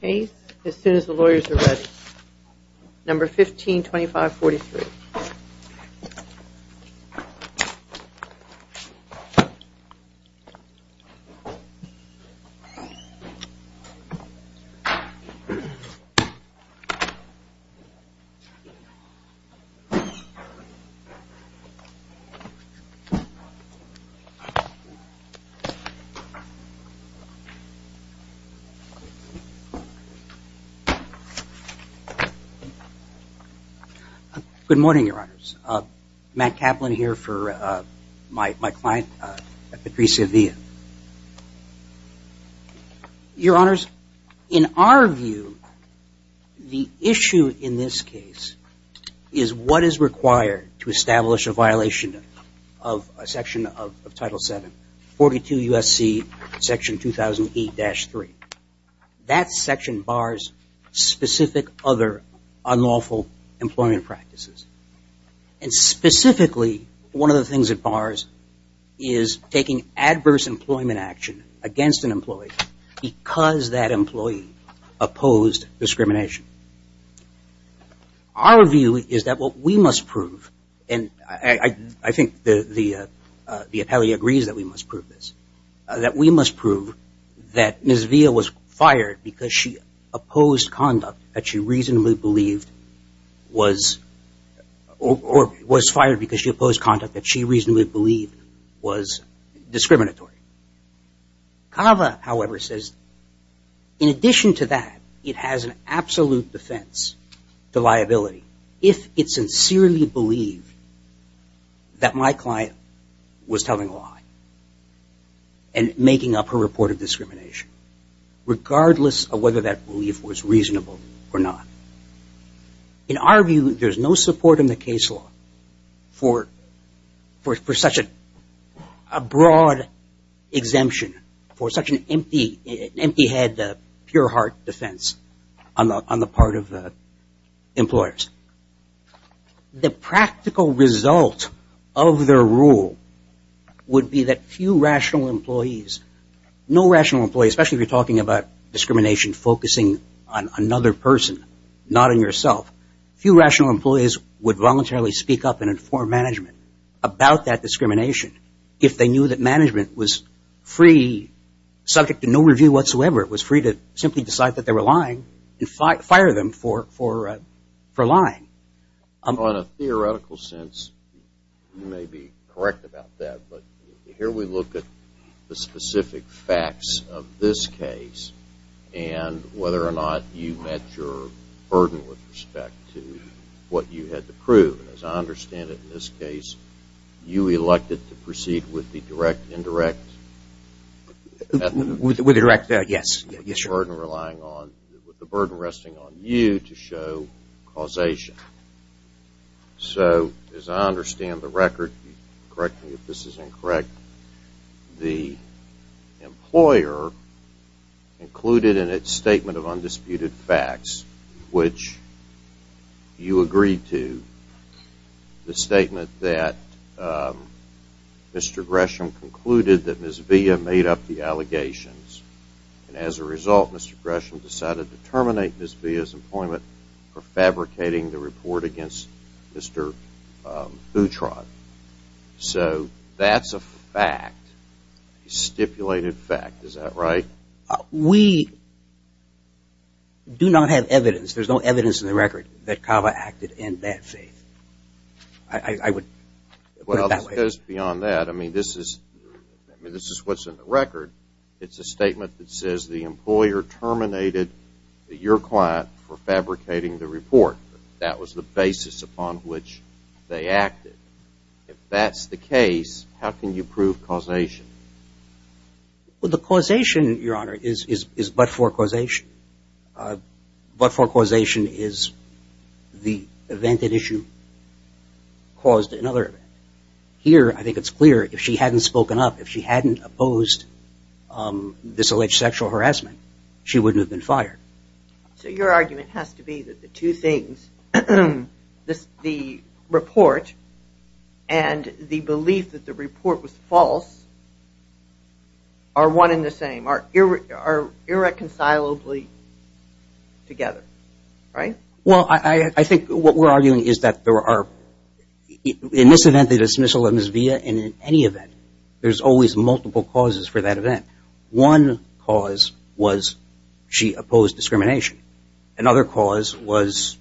Case, as soon as the lawyers are ready, number 152543. Good morning, Your Honors. Matt Kaplan here for my client, Patricia Villa. Your Honors, in our view, the issue in this case is what is required to establish a violation of a section of Title VII, 42 U.S.C. Section 2008-3. That section bars specific other unlawful employment practices. And specifically, one of the things it bars is taking adverse employment action against an employee because that employee opposed discrimination. Our view is that what we must prove, and I think the atelier agrees that we must prove this, that we must prove that Ms. Villa was fired because she opposed conduct that she reasonably believed was, or was fired because she opposed conduct that she reasonably believed was discriminatory. CAVA, however, says in addition to that, it has an absolute defense to liability if it sincerely believed that my client was telling a lie and making up her report of discrimination, regardless of whether that belief was reasonable or not. In our view, there's no support in the case law for such a broad exemption, for such an empty head, pure heart defense on the part of employers. The practical result of their rule would be that few rational employees, no rational employees, especially if you're talking about discrimination focusing on another person, not on yourself, few rational employees would voluntarily speak up and inform management about that discrimination if they knew that subject to no review whatsoever, it was free to simply decide that they were lying and fire them for lying. On a theoretical sense, you may be correct about that, but here we look at the specific facts of this case and whether or not you met your burden with respect to what you had to prove. As I understand it in this case, you elected to proceed with the direct, indirect, burden resting on you to show causation. So as I understand the record, correct me if this is incorrect, the employer included in its statement of undisputed facts, which you agreed to, the statement that the employer said that Mr. Gresham concluded that Ms. Villa made up the allegations and as a result Mr. Gresham decided to terminate Ms. Villa's employment for fabricating the report against Mr. Boutron. So that's a fact, a stipulated fact, is that right? We do not have evidence, there's no evidence in the record that Cava acted in that faith. I would put it that way. Well, just beyond that, I mean, this is what's in the record. It's a statement that says the employer terminated your client for fabricating the report. That was the basis upon which they acted. If that's the case, how can you prove causation? Well, the causation, Your Honor, is but-for causation. But-for causation is the event at issue caused another event. Here, I think it's clear, if she hadn't spoken up, if she hadn't opposed this alleged sexual harassment, she wouldn't have been fired. So your argument has to be that the two things, the report and the belief that the report was false are one and the same, are irreconcilable together, right? Well, I think what we're arguing is that there are, in this event, the dismissal of Ms. Villa, and in any event, there's always multiple causes for that event. One cause was she opposed discrimination. Another cause was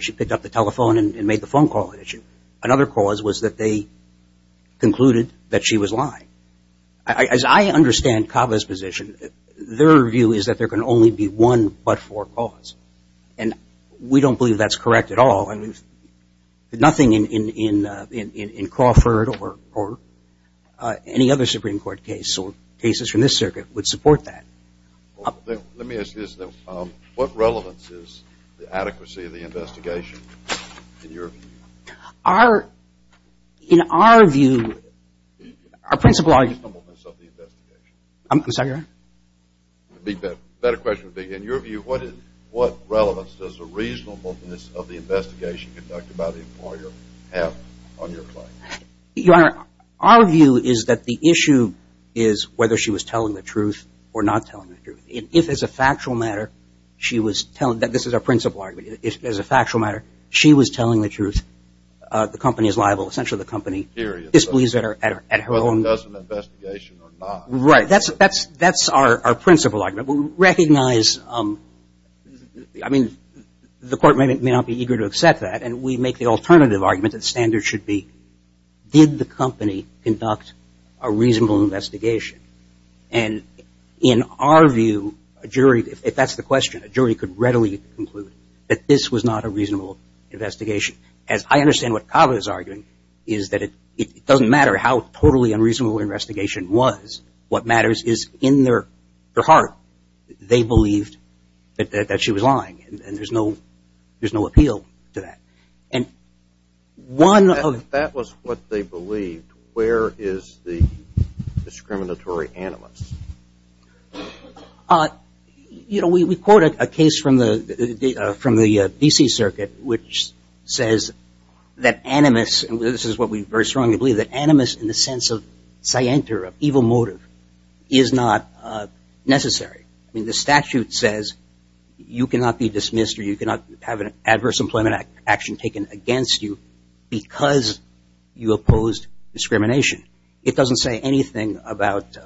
she picked up the telephone and made the phone call at issue. Another cause was that they concluded that she was lying. As I understand CABA's position, their view is that there can only be one but-for cause. And we don't believe that's correct at all. And nothing in Crawford or any other Supreme Court case or cases from this circuit would support that. Let me ask you this. What relevance is the adequacy of the investigation in your view? Our, in our view, our principle argument- The reasonableness of the investigation. I'm sorry, Your Honor? A better question would be, in your view, what relevance does the reasonableness of the investigation conducted by the employer have on your claim? Your Honor, our view is that the issue is whether she was telling the truth or not telling the truth. If, as a factual matter, she was telling, this is our principle argument, as a factual matter, she was telling the truth, the company is liable. Essentially, the company disbelieves that at her own- Whether it does an investigation or not. Right. That's our principle argument. We recognize, I mean, the Court may not be eager to accept that and we make the alternative argument that the standard should be, did the company conduct a reasonable investigation? And in our view, a jury, if that's the question, a jury could readily conclude that this was not a reasonable investigation. As I understand what Kava is arguing, is that it doesn't matter how totally unreasonable the investigation was, what matters is in their heart, they believed that she was lying and there's no appeal to that. And one of- If that was what they believed, where is the discriminatory animus? You know, we quoted a case from the D.C. Circuit which says that animus, and this is what we very strongly believe, that animus in the sense of scienter, of evil motive, is not necessary. I mean, the statute says you cannot be dismissed or you cannot have an adverse employment action taken against you because you opposed discrimination. It doesn't say anything about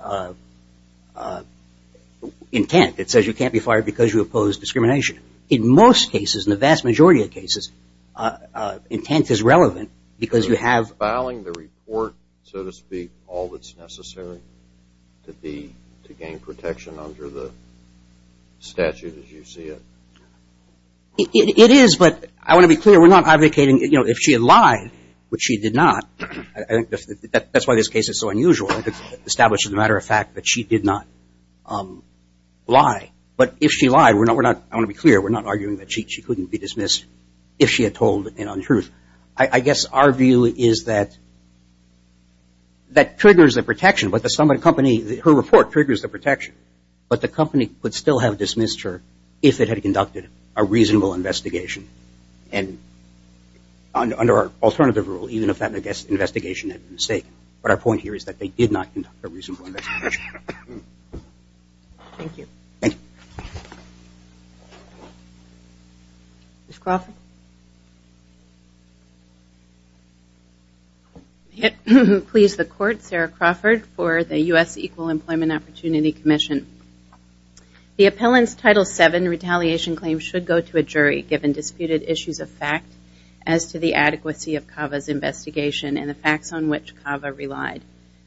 intent. It says you can't be fired because you opposed discrimination. In most cases, in the vast majority of cases, intent is relevant because you have- Is filing the report, so to speak, all that's necessary to gain protection under the statute as you see it? It is, but I want to be clear, we're not advocating, you know, if she had lied, which she did not, I think that's why this case is so unusual, established as a matter of fact that she did not lie. But if she lied, we're not- I want to be clear, we're not arguing that she couldn't be dismissed if she had told an untruth. I guess our view is that that triggers the protection, but the company, her report triggers the protection, but the company could still have dismissed her if it had conducted a reasonable investigation. And under our alternative rule, even if that investigation had been a mistake, but our point here is that they did not conduct a reasonable investigation. Thank you. Thank you. Ms. Crawford? May it please the Court, Sarah Crawford for the U.S. Equal Employment Opportunity Commission. The appellant's Title VII retaliation claim should go to a jury given disputed issues of fact as to the adequacy of CAVA's investigation and the facts on which CAVA relied.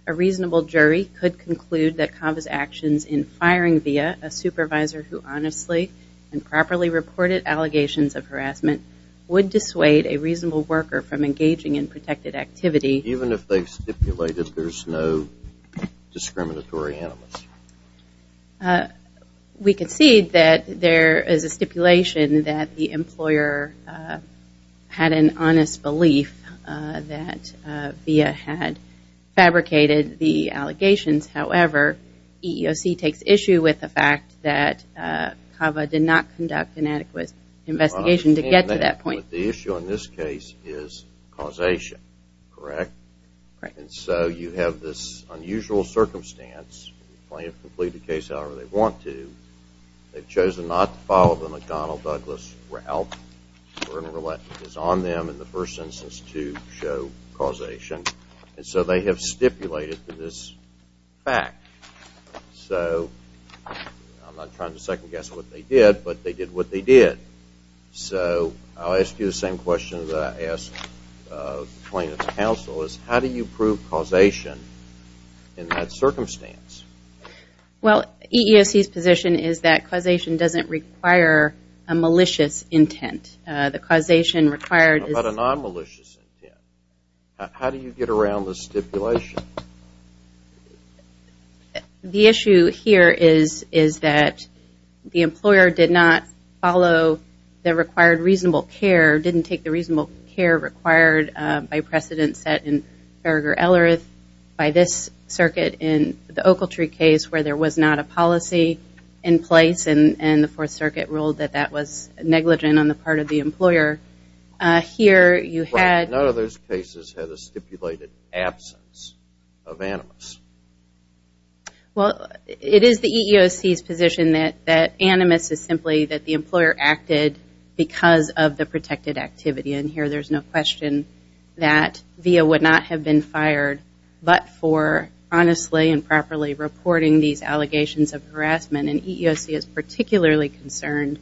A reasonable jury could conclude that CAVA's actions in firing VIA, a supervisor who honestly and properly reported allegations of harassment, would dissuade a reasonable worker from engaging in protected activity. Even if they stipulated there's no discriminatory animals? We could see that there is a stipulation that the employer had an honest belief that VIA had fabricated the allegations. However, EEOC takes issue with the fact that CAVA did not conduct an adequate investigation to get to that point. The issue in this case is causation, correct? Correct. And so you have this unusual circumstance. The plaintiff can plead the case however they want to. They've chosen not to follow the McDonnell-Douglas route. The burden of reluctance on them in the first instance to show causation. And so they have stipulated this fact. So, I'm not trying to second-guess what they did, but they did what they did. So, I'll ask you the same question that I asked the plaintiff's counsel, is how do you prove causation in that circumstance? Well, EEOC's position is that causation doesn't require a malicious intent. The causation requires... What about a non-malicious intent? How do you get around the stipulation? The issue here is that the employer did not follow the required reasonable care, didn't take the reasonable care required by precedent set in Berger-Ellerith by this circuit in the Ocaltree case where there was not a policy in place and the Fourth Circuit ruled that that was negligent on the part of the employer. Here, you had... Well, it is the EEOC's position that animus is simply that the employer acted because of the protected activity. And here, there's no question that Vea would not have been fired but for honestly and properly reporting these allegations of harassment. And EEOC is particularly concerned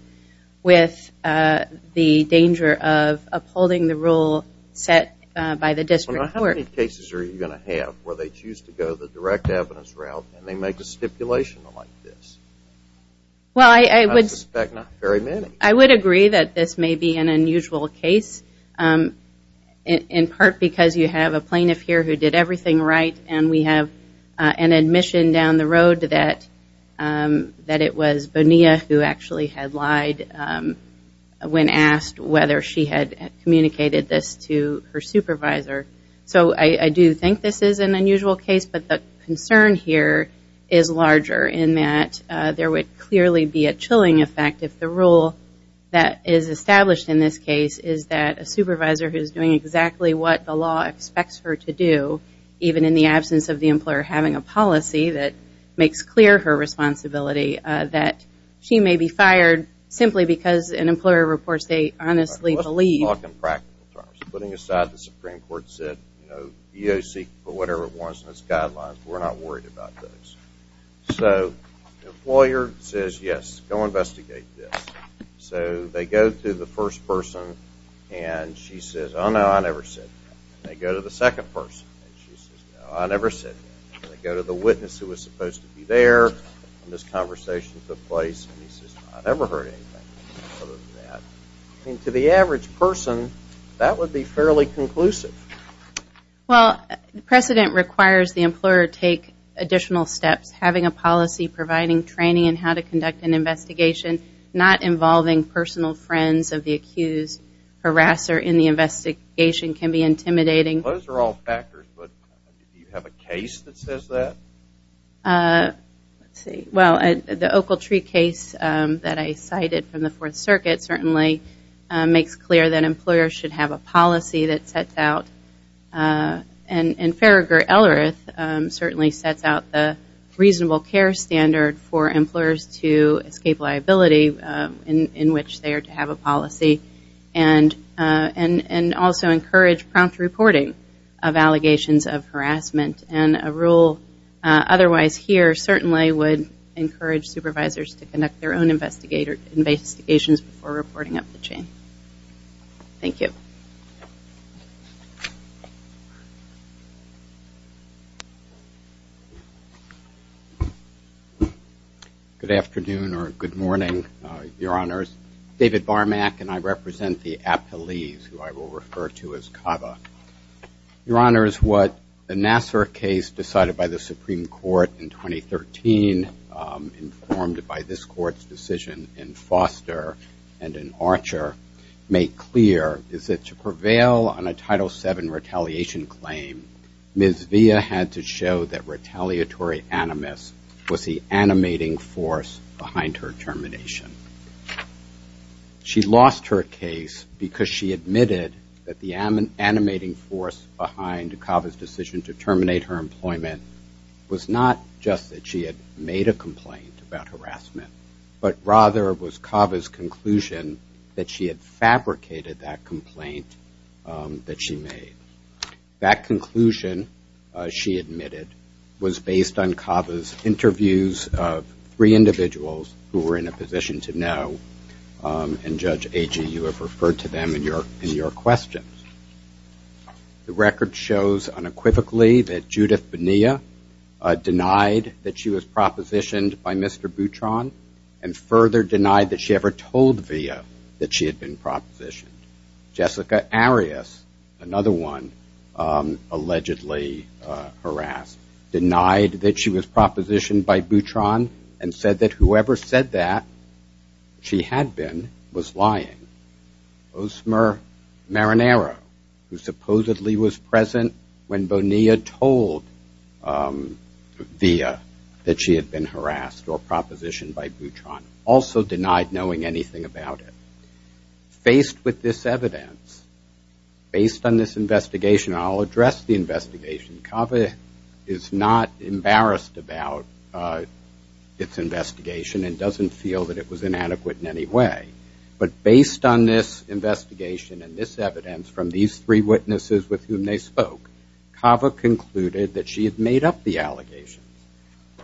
with the danger of upholding the rule set by the district court. How many cases are you going to have where they choose to go the direct evidence route and they make a stipulation like this? Well, I would... I suspect not very many. I would agree that this may be an unusual case in part because you have a plaintiff here who did everything right and we have an admission down the road that it was Bonilla who actually had lied when asked whether she had communicated this to her supervisor. So, I do think this is an unusual case but the concern here is larger in that there would clearly be a chilling effect if the rule that is established in this case is that a supervisor who is doing exactly what the law expects her to do, even in the absence of the employer having a policy that makes clear her responsibility, that she may be fired simply because an employer reports they honestly believe... Let's talk in practical terms. Putting aside the Supreme Court said, you know, EEOC, for whatever it wants in its guidelines, we're not worried about those. So, the employer says, yes, go investigate this. So, they go to the first person and she says, oh, no, I never said that. They go to the witness who was supposed to be there and this conversation took place and he says, I never heard anything other than that. I mean, to the average person, that would be fairly conclusive. Well, precedent requires the employer take additional steps. Having a policy providing training in how to conduct an investigation, not involving personal friends of the accused harasser in the investigation can be intimidating. Those are all factors, but do you have a case that says that? Let's see. Well, the Ocaltree case that I cited from the Fourth Circuit certainly makes clear that employers should have a policy that sets out, and Farragher-Ellerith certainly sets out the reasonable care standard for employers to escape liability in which they are to have a policy and also encourage prompt reporting of allegations of harassment. And a rule otherwise here certainly would encourage supervisors to conduct their own investigations before reporting up the chain. Thank you. Good afternoon or good morning, Your Honors. David Barmack and I represent the appellees who I will refer to as CABA. Your Honors, what the Nassar case decided by the Supreme Court in 2013, informed by this Court's decision in Foster and in Archer, made clear is that to prevail on a Title VII retaliation claim, Ms. Villa had to show that retaliatory animus was the animating force behind her termination. She lost her case because she admitted that the animating force behind CABA's decision to terminate her employment was not just that she had made a complaint about harassment, but rather it was CABA's conclusion that she had fabricated that complaint that she made. That conclusion, she admitted, was based on CABA's interviews of three individuals who were in a position to know, and Judge Agee, you have referred to them in your questions. The record shows unequivocally that Judith Bonilla denied that she was propositioned by Mr. Boutron and further denied that she ever told Villa that she had been propositioned. Jessica Arias, another one allegedly harassed, denied that she was propositioned by Boutron and said that whoever said that she had been was lying. Osmer Marinero, who supposedly was present when Bonilla told Villa that she had been harassed or propositioned by Boutron, also denied knowing anything about it. Faced with this evidence, based on this investigation, and I'll address the investigation, CABA is not embarrassed about its investigation and doesn't feel that it was inadequate in any way. But based on this investigation and this evidence from these three witnesses with whom they spoke, CABA concluded that she had made up the allegations.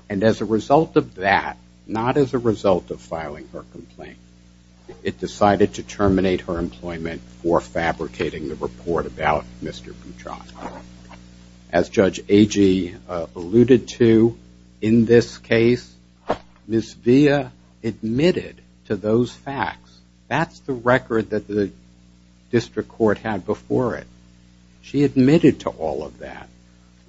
And as a result of that, not as a result of filing her complaint, it decided to terminate her employment for fabricating the report about Mr. Boutron. As Judge Agee alluded to, in this case, Ms. Villa admitted to those facts. That's the record that the district court had before it. She admitted to all of that.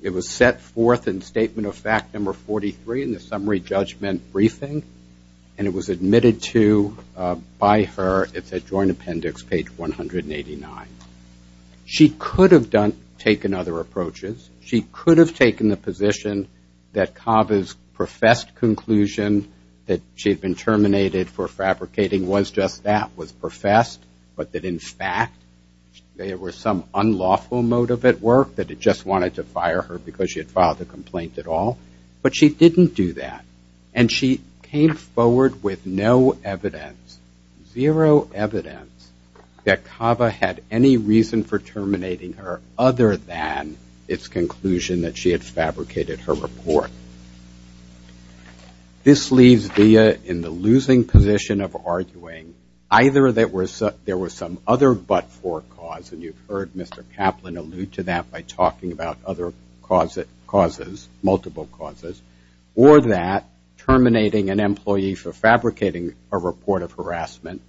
It was set forth in Statement of Fact Number 43 in the summary judgment briefing, and it was admitted to by her, it's at Joint Appendix, page 189. She could have taken other approaches. She could have taken the position that CABA's professed conclusion that she had been terminated for fabricating was just that, was professed, but that, in fact, there was some unlawful motive at work, that it just wanted to fire her because she had filed the complaint at all. But she didn't do that, and she came forward with no evidence, zero evidence that CABA had any reason for terminating her other than its conclusion that she had fabricated her report. This leaves Villa in the losing position of arguing either there was some other but-for cause, and you've heard Mr. Kaplan allude to that by talking about other causes, multiple causes, or that terminating an employee for fabricating a report of harassment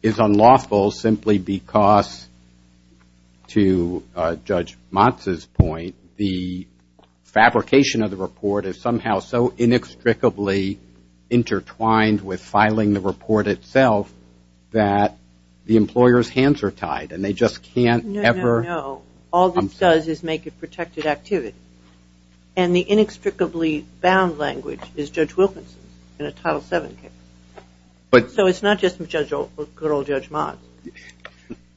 is unlawful simply because, to Judge Motz's point, the fabrication of the report is somehow so inextricably intertwined with filing the report itself that the employer's hands are tied, and they just can't ever- No, no, no. All this does is make it protected activity. And the inextricably bound language is Judge Wilkinson's in a Title VII case. But- So it's not just good old Judge Motz.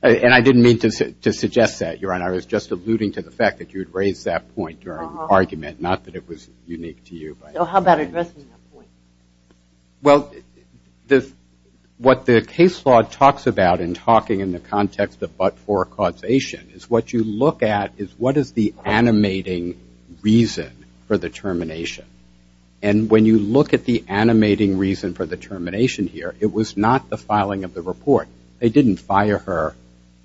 And I didn't mean to suggest that, Your Honor. I was just alluding to the fact that you had raised that point during the argument, not that it was unique to you. So how about addressing that point? Well, what the case law talks about in talking in the context of but-for causation is what you look at is what is the animating reason for the termination. And when you look at the animating reason for the termination here, it was not the filing of the report. They didn't fire her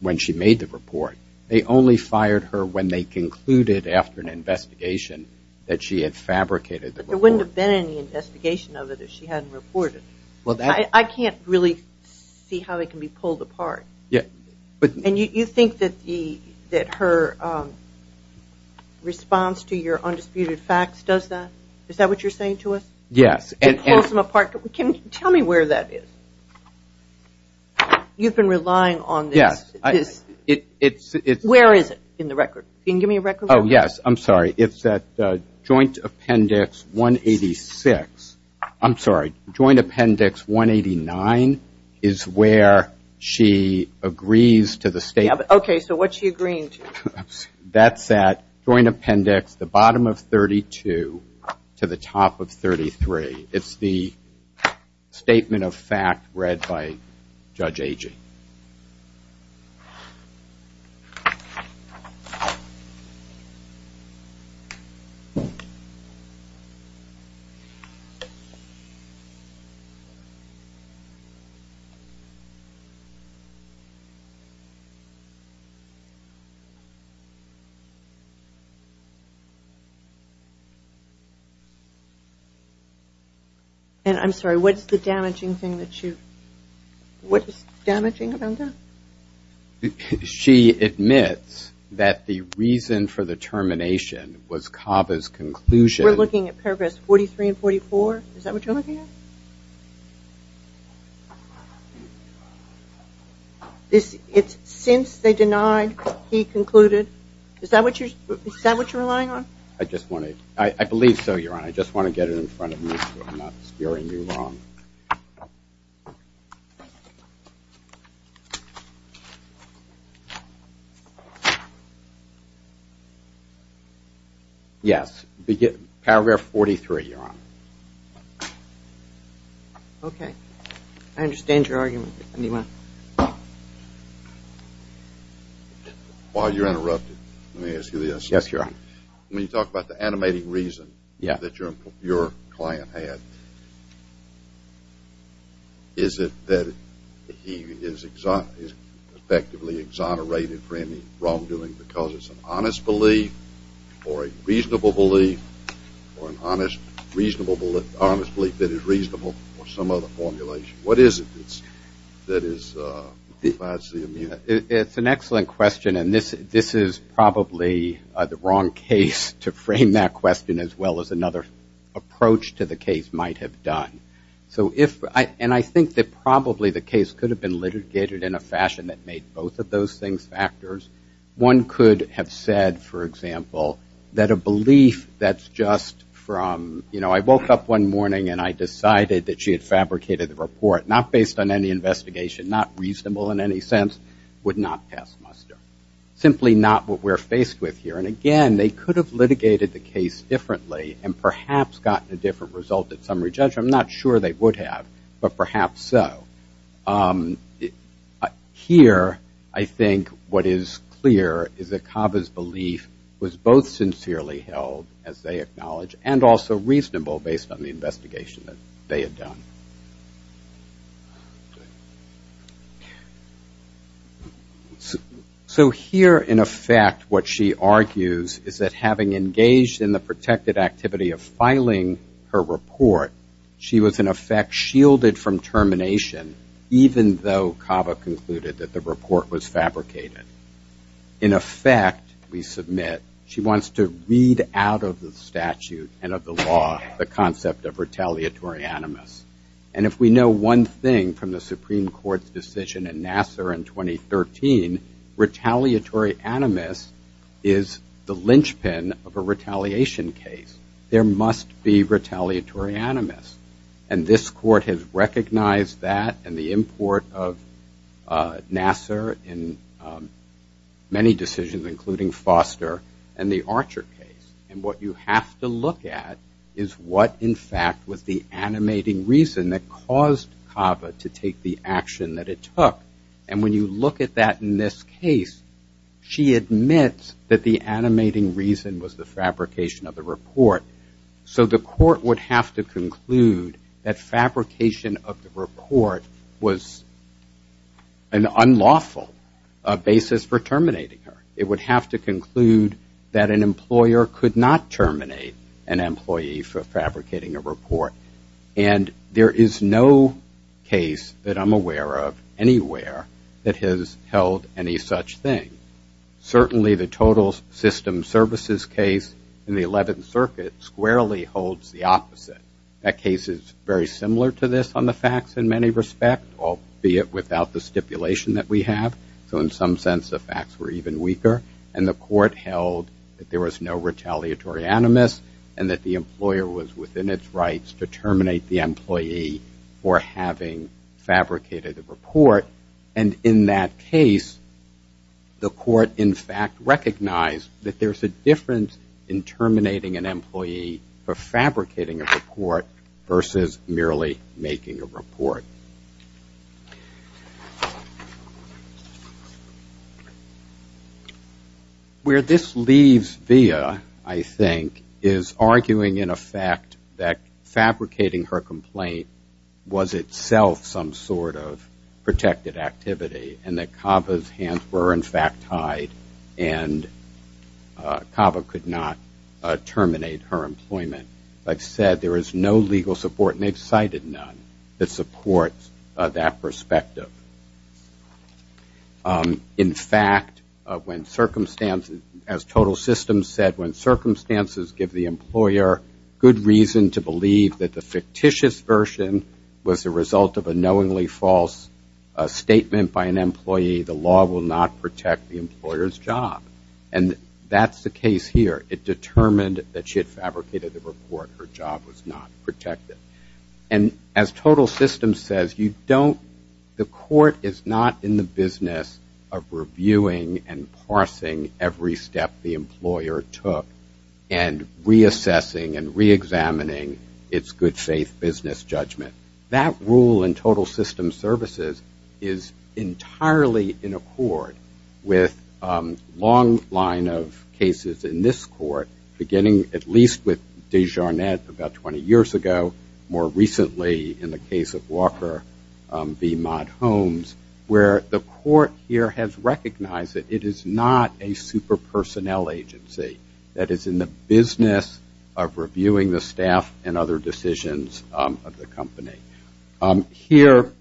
when she made the report. They only fired her when they concluded after an investigation that she had fabricated the report. But there wouldn't have been any investigation of it if she hadn't reported. I can't really see how it can be pulled apart. And you think that her response to your undisputed facts does that? Is that what you're saying to us? Yes. To pull some apart? Tell me where that is. You've been relying on this. Where is it in the record? Can you give me a record? Oh, yes. I'm sorry. It's at Joint Appendix 186. I'm sorry. Joint Appendix 189 is where she agrees to the statement. Okay. So what's she agreeing to? That's at Joint Appendix, the bottom of 32 to the top of 33. It's the statement of fact read by Judge Agee. And I'm sorry, what's the damaging thing that you – what is damaging about that? She admits that the reason for the termination was Cava's conclusion. We're looking at paragraphs 43 and 44? Yes. Is that what you're looking at? It's since they denied, he concluded. Is that what you're relying on? I just want to – I believe so, Your Honor. I just want to get it in front of me so I'm not scaring you wrong. Yes. Paragraph 43, Your Honor. Okay. I understand your argument. While you're interrupted, let me ask you this. Yes, Your Honor. When you talk about the animating reason that your client had, is it that he is effectively exonerated for any wrongdoing because it's an honest belief or a reasonable belief or an honest belief that is reasonable or some other formulation? What is it that provides the immunity? It's an excellent question and this is probably the wrong case to frame that question as well as another approach to the case might have done. So if – and I think that probably the case could have been litigated in a fashion that made both of those things factors. One could have said, for example, that a belief that's just from – you know, I woke up one morning and I decided that she had fabricated the report, not based on any investigation, not reasonable in any sense, would not pass muster. Simply not what we're faced with here. And again, they could have litigated the case differently and perhaps gotten a different result at summary judgment. I'm not sure they would have, but perhaps so. Here, I think what is clear is that Kava's belief was both sincerely held, as they acknowledge, and also reasonable based on the investigation that they had done. So here, in effect, what she argues is that having engaged in the protected activity of filing her report, she was, in effect, shielded from termination, even though Kava concluded that the report was fabricated. In effect, we submit, she wants to read out of the statute and of the law the concept of retaliatory animus. And if we know one thing from the Supreme Court's decision in Nassar in 2013, retaliatory animus is the linchpin of a retaliation case. There must be retaliatory animus. And this court has recognized that and the import of Nassar in many decisions, including Foster and the Archer case. And what you have to look at is what, in fact, was the animating reason that caused Kava to take the action that it took. And when you look at that in this case, she admits that the animating reason was the fabrication of the report. So the court would have to conclude that fabrication of the report was an unlawful basis for terminating her. It would have to conclude that an employer could not terminate an employee for fabricating a report. And there is no case that I'm aware of anywhere that has held any such thing. Certainly the total system services case in the 11th Circuit squarely holds the opposite. That case is very similar to this on the facts in many respects, albeit without the stipulation that we have. So in some sense the facts were even weaker. And the court held that there was no retaliatory animus and that the employer was within its rights to terminate the employee for having fabricated a report. And in that case, the court, in fact, recognized that there's a difference in terminating an employee for fabricating a report versus merely making a report. Where this leaves Via, I think, is arguing, in effect, that fabricating her complaint was itself some sort of protection. It was a protected activity and that Kava's hands were, in fact, tied and Kava could not terminate her employment. Like I said, there is no legal support, and they've cited none, that supports that perspective. In fact, when circumstances, as total systems said, when circumstances give the employer good reason to believe that the fictitious version was the result of a knowingly false statement. By an employee, the law will not protect the employer's job. And that's the case here. It determined that she had fabricated the report, her job was not protected. And as total systems says, you don't, the court is not in the business of reviewing and parsing every step the employer took and reassessing and reexamining its good faith business judgment. That rule in total systems services is entirely in accord with a long line of cases in this court, beginning at least with Desjarnet about 20 years ago, more recently in the case of Walker v. Mott Holmes, where the court here has recognized that it is not a super personnel agency that is in the business of reviewing the staff and other decisions of the company. Here,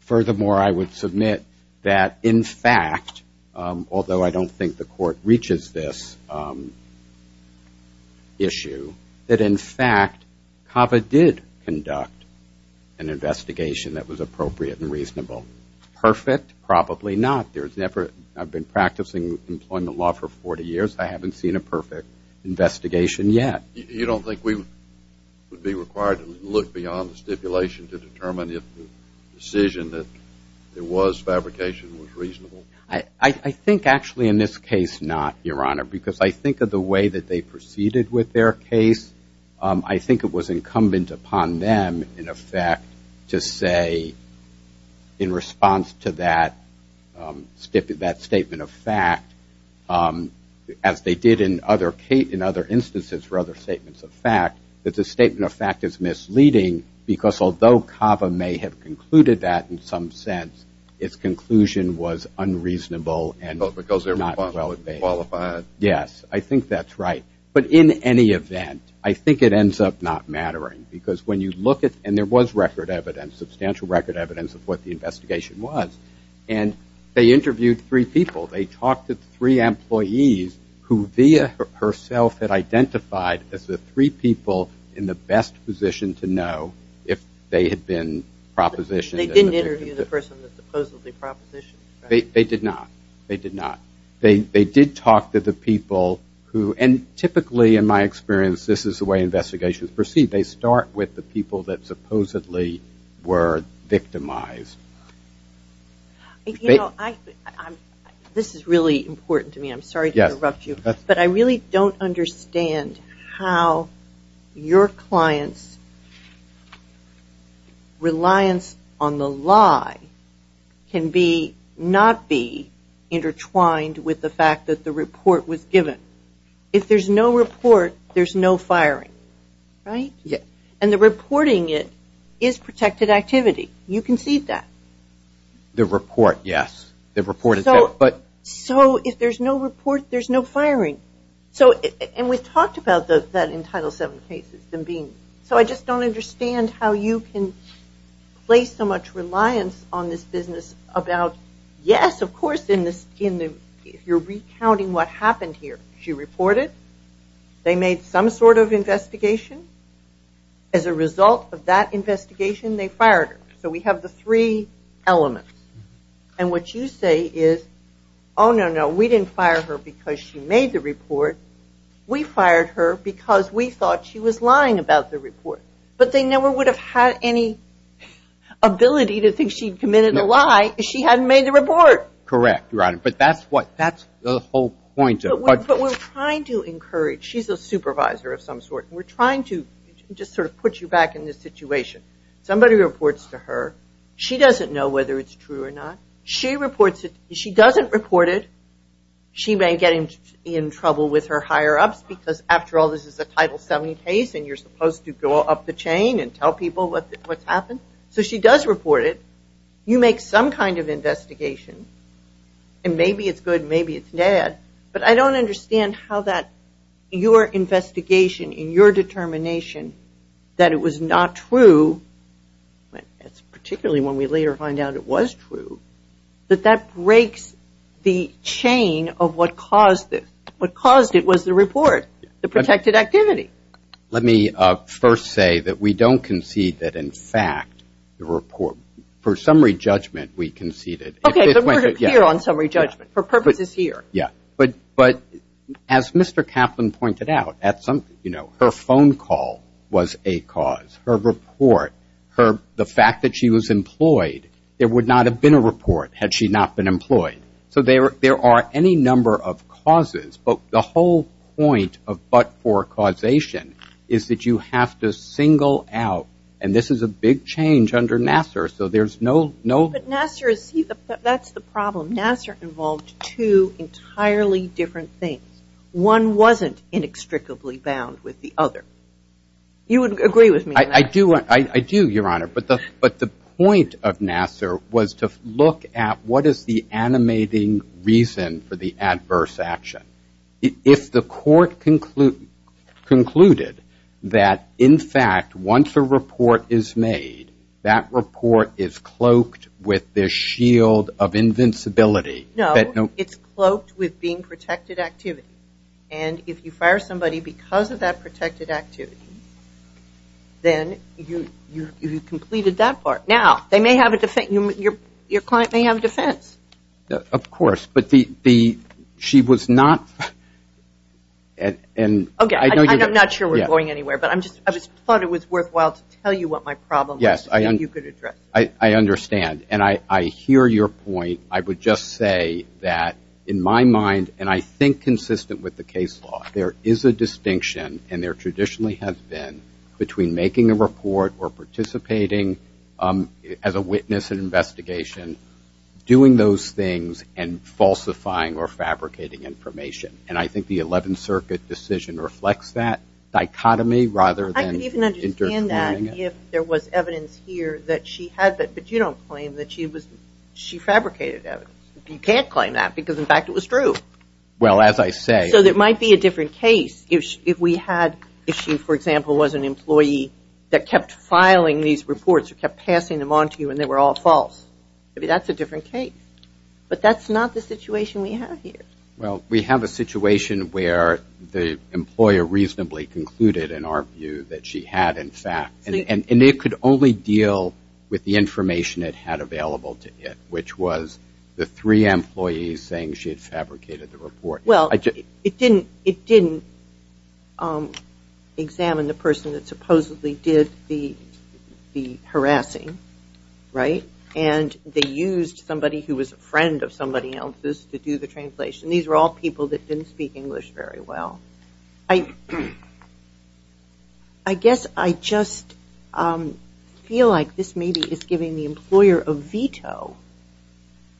furthermore, I would submit that in fact, although I don't think the court reaches this issue, that in fact, CAVA did conduct an investigation that was appropriate and reasonable. Perfect? Probably not. I've been practicing employment law for 40 years. I haven't seen a perfect investigation yet. You don't think we would be required to look beyond the stipulation to determine if the decision that it was fabrication was reasonable? I think actually in this case, not, Your Honor, because I think of the way that they proceeded with their case, I think it was incumbent upon them in effect to say in response to that, that statement of fact, as they did in other instances for other statements of fact, that the statement of fact is misleading, because although CAVA may have concluded that in some sense, its conclusion was unreasonable and not well-evaluated. Yes, I think that's right. But in any event, I think it ends up not mattering, because when you look at, and there was record evidence, substantial record evidence of what the investigation was, and they interviewed three people. They talked to three employees who, via herself, had identified as the three people in the best position to know if they had been propositioned. They didn't interview the person that supposedly propositioned, right? They did not. They did not. They did talk to the people who, and typically in my experience, this is the way investigations proceed. They start with the people that supposedly were victimized. This is really important to me. I'm sorry to interrupt you. But I really don't understand how your clients' reliance on the lie can not be intertwined with the fact that the report was given. If there's no report, there's no firing. Right? And the reporting it is protected activity. You can see that. The report, yes. The report is there. Yes, of course, if you're recounting what happened here. She reported. They made some sort of investigation. As a result of that investigation, they fired her. So we have the three elements. And what you say is, oh, no, no, we didn't fire her because she made the report. We fired her because we thought she was lying about the report. But they never would have had any ability to think she'd committed a lie if she hadn't made the report. Correct, but that's the whole point. But we're trying to encourage. She's a supervisor of some sort. We're trying to just sort of put you back in this situation. Somebody reports to her. She doesn't know whether it's true or not. She doesn't report it. She may get in trouble with her higher-ups because after all this is a Title 70 case and you're supposed to go up the chain and tell people what's happened. So she does report it. You make some kind of investigation. And maybe it's good, maybe it's bad, but I don't understand how that your investigation and your determination that it was not true, particularly when we later find out it was true, that that breaks the chain of what caused it. It was the report, the protected activity. Let me first say that we don't concede that in fact the report, for summary judgment we conceded. Okay, but we're here on summary judgment. Her purpose is here. But as Mr. Kaplan pointed out, her phone call was a cause. Her report, the fact that she was employed, there would not have been a report had she not been employed. So there are any number of causes, but the whole point of but for causation is that you have to single out, and this is a big change under Nassar, so there's no But Nassar, that's the problem. Nassar involved two entirely different things. One wasn't inextricably bound with the other. You would agree with me on that? I do, Your Honor, but the point of Nassar was to look at what is the animating reason for the adverse action. If the court concluded that in fact once a report is made, that report is cloaked with this shield of invincibility. No, it's cloaked with being protected activity. And if you fire somebody because of that protected activity, then you've completed that part. Now, your client may have a defense. Of course, but she was not Okay, I'm not sure we're going anywhere, but I just thought it was worthwhile to tell you what my problem was so that you could address it. I understand, and I hear your point. I would just say that in my mind, and I think consistent with the case law, there is a distinction and there traditionally has been between making a report or participating as a witness in an investigation, doing those things, and falsifying or fabricating information. And I think the 11th Circuit decision reflects that dichotomy rather than interfering. I could even understand that if there was evidence here that she had, but you don't claim that she fabricated evidence. You can't claim that, because in fact it was true. Well, as I say So it might be a different case if we had, if she, for example, was an employee that kept filing these reports or kept passing them on to you and they were all false. Maybe that's a different case. But that's not the situation we have here. Well, we have a situation where the employer reasonably concluded in our view that she had, in fact, and it could only deal with the information it had available to it, which was the three employees saying she had fabricated the report. Well, it didn't examine the person that supposedly did the harassing, right? And they used somebody who was a friend of somebody else's to do the translation. These were all people that didn't speak English very well. I guess I just feel like this maybe is giving the employer a veto.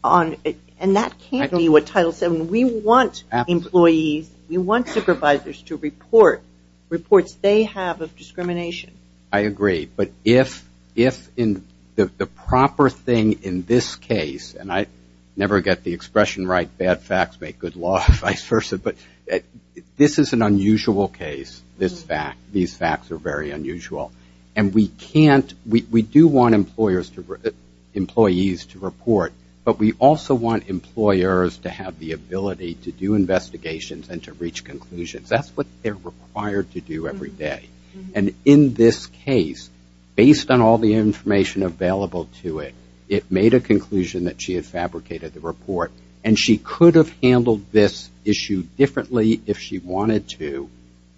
And that can't be what Title VII we want employees, we want supervisors to report reports they have of discrimination. I agree, but if the proper thing in this case and I never get the expression right, bad facts make good law, vice versa, but this is an unusual case, this fact. These facts are very unusual. And we can't, we do want employers to, employees to report, but we also want employers to have the ability to do investigations and to reach conclusions. That's what they're required to do every day. And in this case, based on all the information available to it, it made a conclusion that she had fabricated the report. And she could have handled this issue differently if she wanted to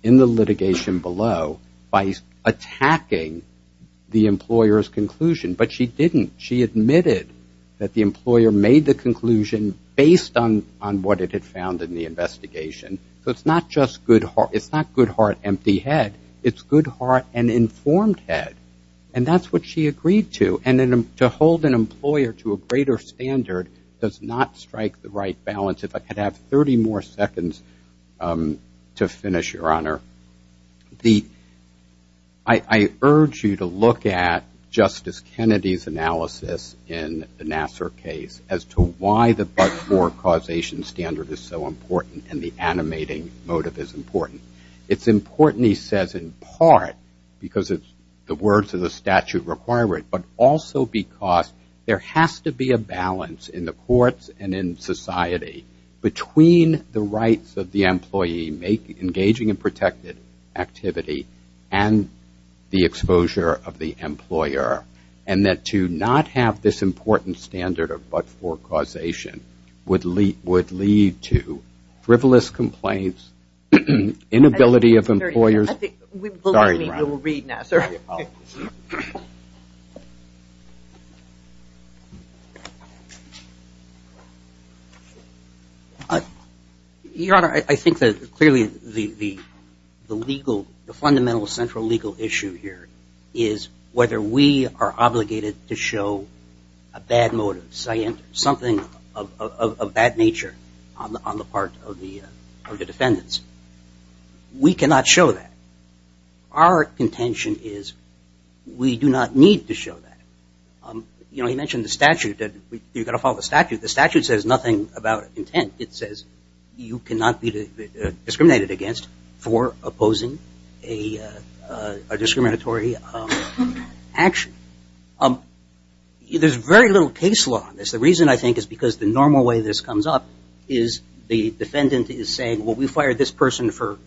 in the litigation below by attacking the employer's conclusion. But she didn't. She admitted that the employer made the conclusion based on what it had found in the investigation. So it's not just good heart, it's not good heart, empty head. It's good heart and informed head. And that's what she agreed to. And to hold an employer to a greater standard does not strike the right balance. If I could have 30 more seconds to finish, Your Honor. The, I urge you to look at Justice Kennedy's in the Nassar case as to why the but-for causation standard is so important and the animating motive is important. It's important, he says, in part because it's the words of the statute require it, but also because there has to be a balance in the courts and in society between the rights of the employee, engaging in protected activity, and the exposure of the employer. And that to not have this important standard of but-for causation would lead to frivolous complaints, inability of employers. Your Honor, I think that clearly the legal, the fundamental central legal issue here is whether we are obligated to show a bad motive, something of that nature on the part of the defendants. We cannot show that. Our contention is we do not need to show that. You know, he mentioned the statute. You've got to follow the statute. The statute says nothing about intent. It says you cannot be discriminated against for opposing a discriminatory action. There's very little case law on this. The reason I think is because the normal way this comes up is the defendant is saying, well, we fired this person for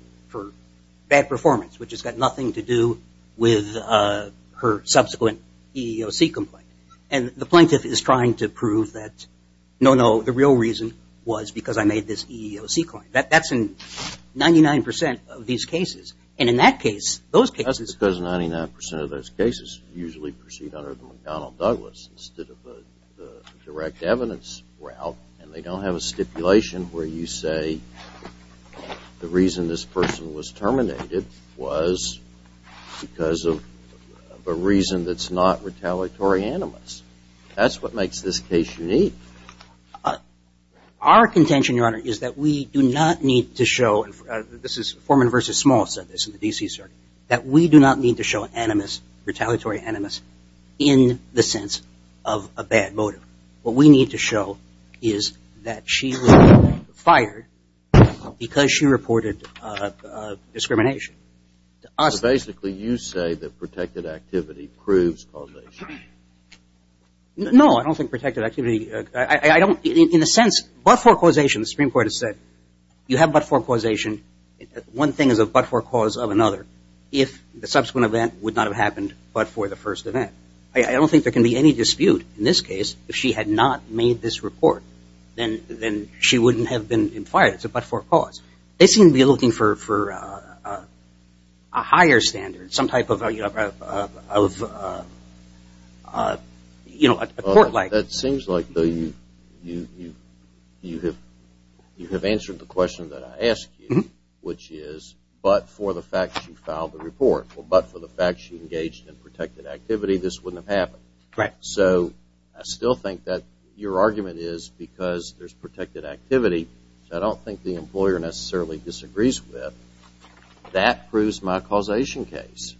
bad performance, which has got nothing to do with her subsequent EEOC complaint. And the plaintiff is trying to prove that, no, no, the real reason was because I made this EEOC complaint. That's in 99 percent of these cases. And in that case, those cases… That's because 99 percent of those cases usually proceed under the McDonnell-Douglas instead of the direct evidence route, and they don't have a stipulation where you say the reason this person was terminated was because of a reason that's not retaliatory animus. That's what makes this case unique. Our contention, Your Honor, is that we do not need to show – this is Forman v. Small said this in the D.C. Circuit – that we do not need to show animus, retaliatory animus, in the sense of a bad motive. What we need to show is that she was fired because she reported discrimination to us. So basically you say that protected activity proves causation. No, I don't think protected activity – I don't – in a sense, but-for causation, the Supreme Court has said you have but-for causation. One thing is a but-for cause of another if the subsequent event would not have happened but for the first event. I don't think there can be any dispute in this case if she had not made this but-for cause. They seem to be looking for a higher standard, some type of – you know, a court-like. That seems like you have answered the question that I asked you, which is but-for the fact she filed the report. Well, but-for the fact she engaged in protected activity, this wouldn't have happened. Right. So I still think that your argument is because there's protected activity that I don't think the employer necessarily disagrees with. That proves my causation case.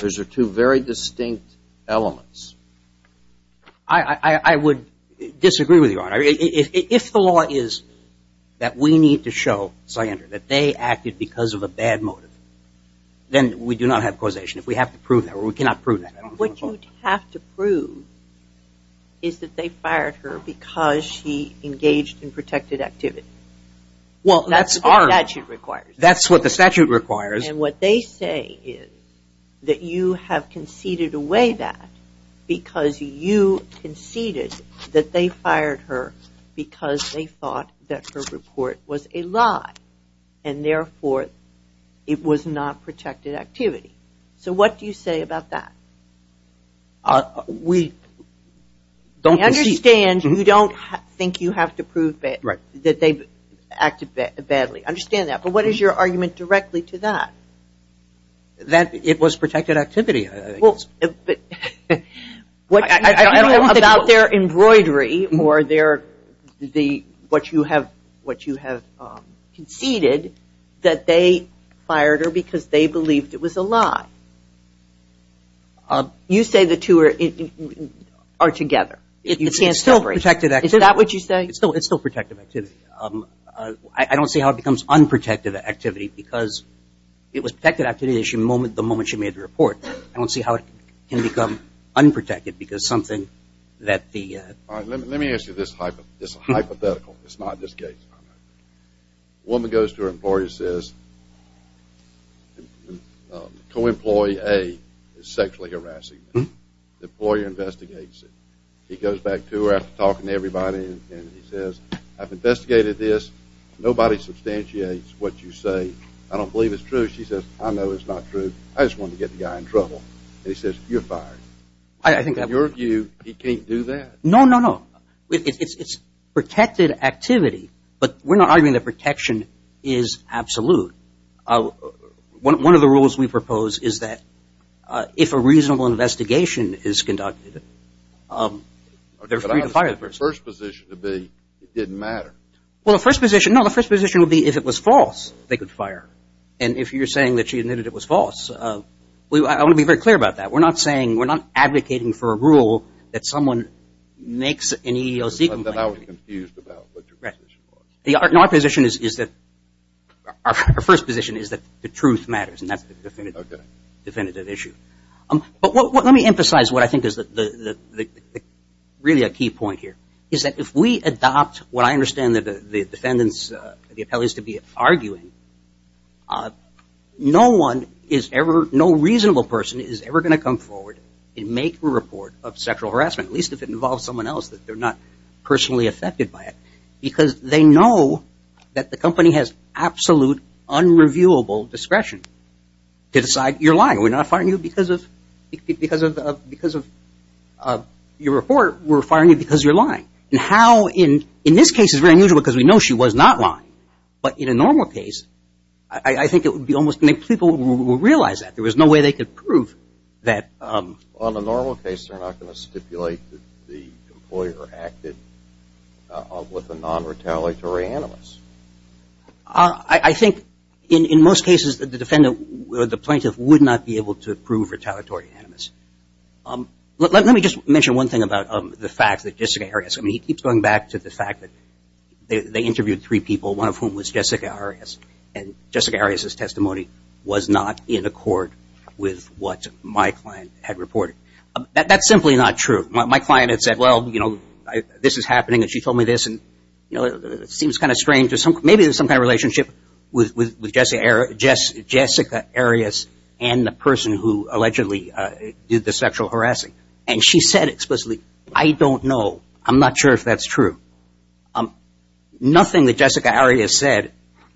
Those are two very distinct elements. I-I-I would disagree with you, Your Honor. If the law is that we need to show Slyander that they acted because of a bad motive, then we do not have causation. If we have to prove that, or we cannot prove that. What you'd have to prove is that they fired her because she engaged in protected activity. Well, that's what the statute requires. That's what the statute requires. And what they say is that you have conceded away that because you conceded that they fired her because they thought that her report was a lie. And therefore, it was not protected activity. So what do you say about that? We don't concede. I understand you don't think you have to prove that they acted badly. I understand that. But what is your argument directly to that? That it was protected activity. About their embroidery or their, what you have conceded that they fired her because they believed it was a lie. You say the two are together. It's still protected activity. Is that what you say? It's still protected activity. I don't see how it becomes unprotected activity because it was protected activity the moment she made the report. I don't see how it can become unprotected. Let me ask you this hypothetical. It's not this case. A woman goes to her employer and says, the co-employee A is sexually harassing me. The employer investigates it. He goes back to her after talking to everybody and he says, I've investigated this. Nobody substantiates what you say. I don't believe it's true. She says, I know it's not true. I just wanted to get the guy in trouble. And he says, you're fired. In your view, he can't do that. No, no, no. It's protected activity. But we're not arguing that protection is absolute. One of the rules we propose is that if a reasonable investigation is conducted, they're free to fire the person. But I was the first position to be it didn't matter. Well, the first position, no, the first position would be if it was false, they could fire. And if you're saying that she admitted it was false, I want to be very clear about that. We're not saying, we're not advocating for a rule that someone makes an EEOC complaint. I was confused about what your position was. Our first position is that the truth matters and that's the definitive issue. But let me emphasize what I think is really a key point here, is that if we adopt what I understand the defendants, the appellees to be arguing, no one is ever, no reasonable person is ever going to come forward and make a report of sexual harassment, at least if it involves someone else that they're not personally affected by it. Because they know that the company has absolute unreviewable discretion to decide you're lying. We're not firing you because of your report. We're firing you because you're lying. And how in this case is very unusual because we know she was not lying. But in a normal case, I think it would be almost make people realize that. There was no way they could prove that. On a normal case, they're not going to stipulate that the employer acted with a non-retaliatory animus. I think in most cases the defendant, the plaintiff would not be able to prove retaliatory animus. Let me just mention one thing about the fact that Jessica Arias, I mean he keeps going back to the fact that they interviewed three people, one of whom was Jessica Arias. And Jessica Arias' testimony was not in accord with what my client had reported. That's simply not true. My client had said, well, you know, this is happening, and she told me this, and it seems kind of strange, maybe there's some kind of relationship with Jessica Arias and the person who allegedly did the sexual harassing. And she said explicitly, I don't know, I'm not sure if that's true. Nothing that Jessica Arias said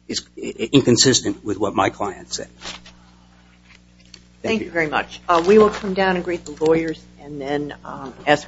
is inconsistent with what my client said. Thank you very much. We will come down and greet the lawyers and then ask questions.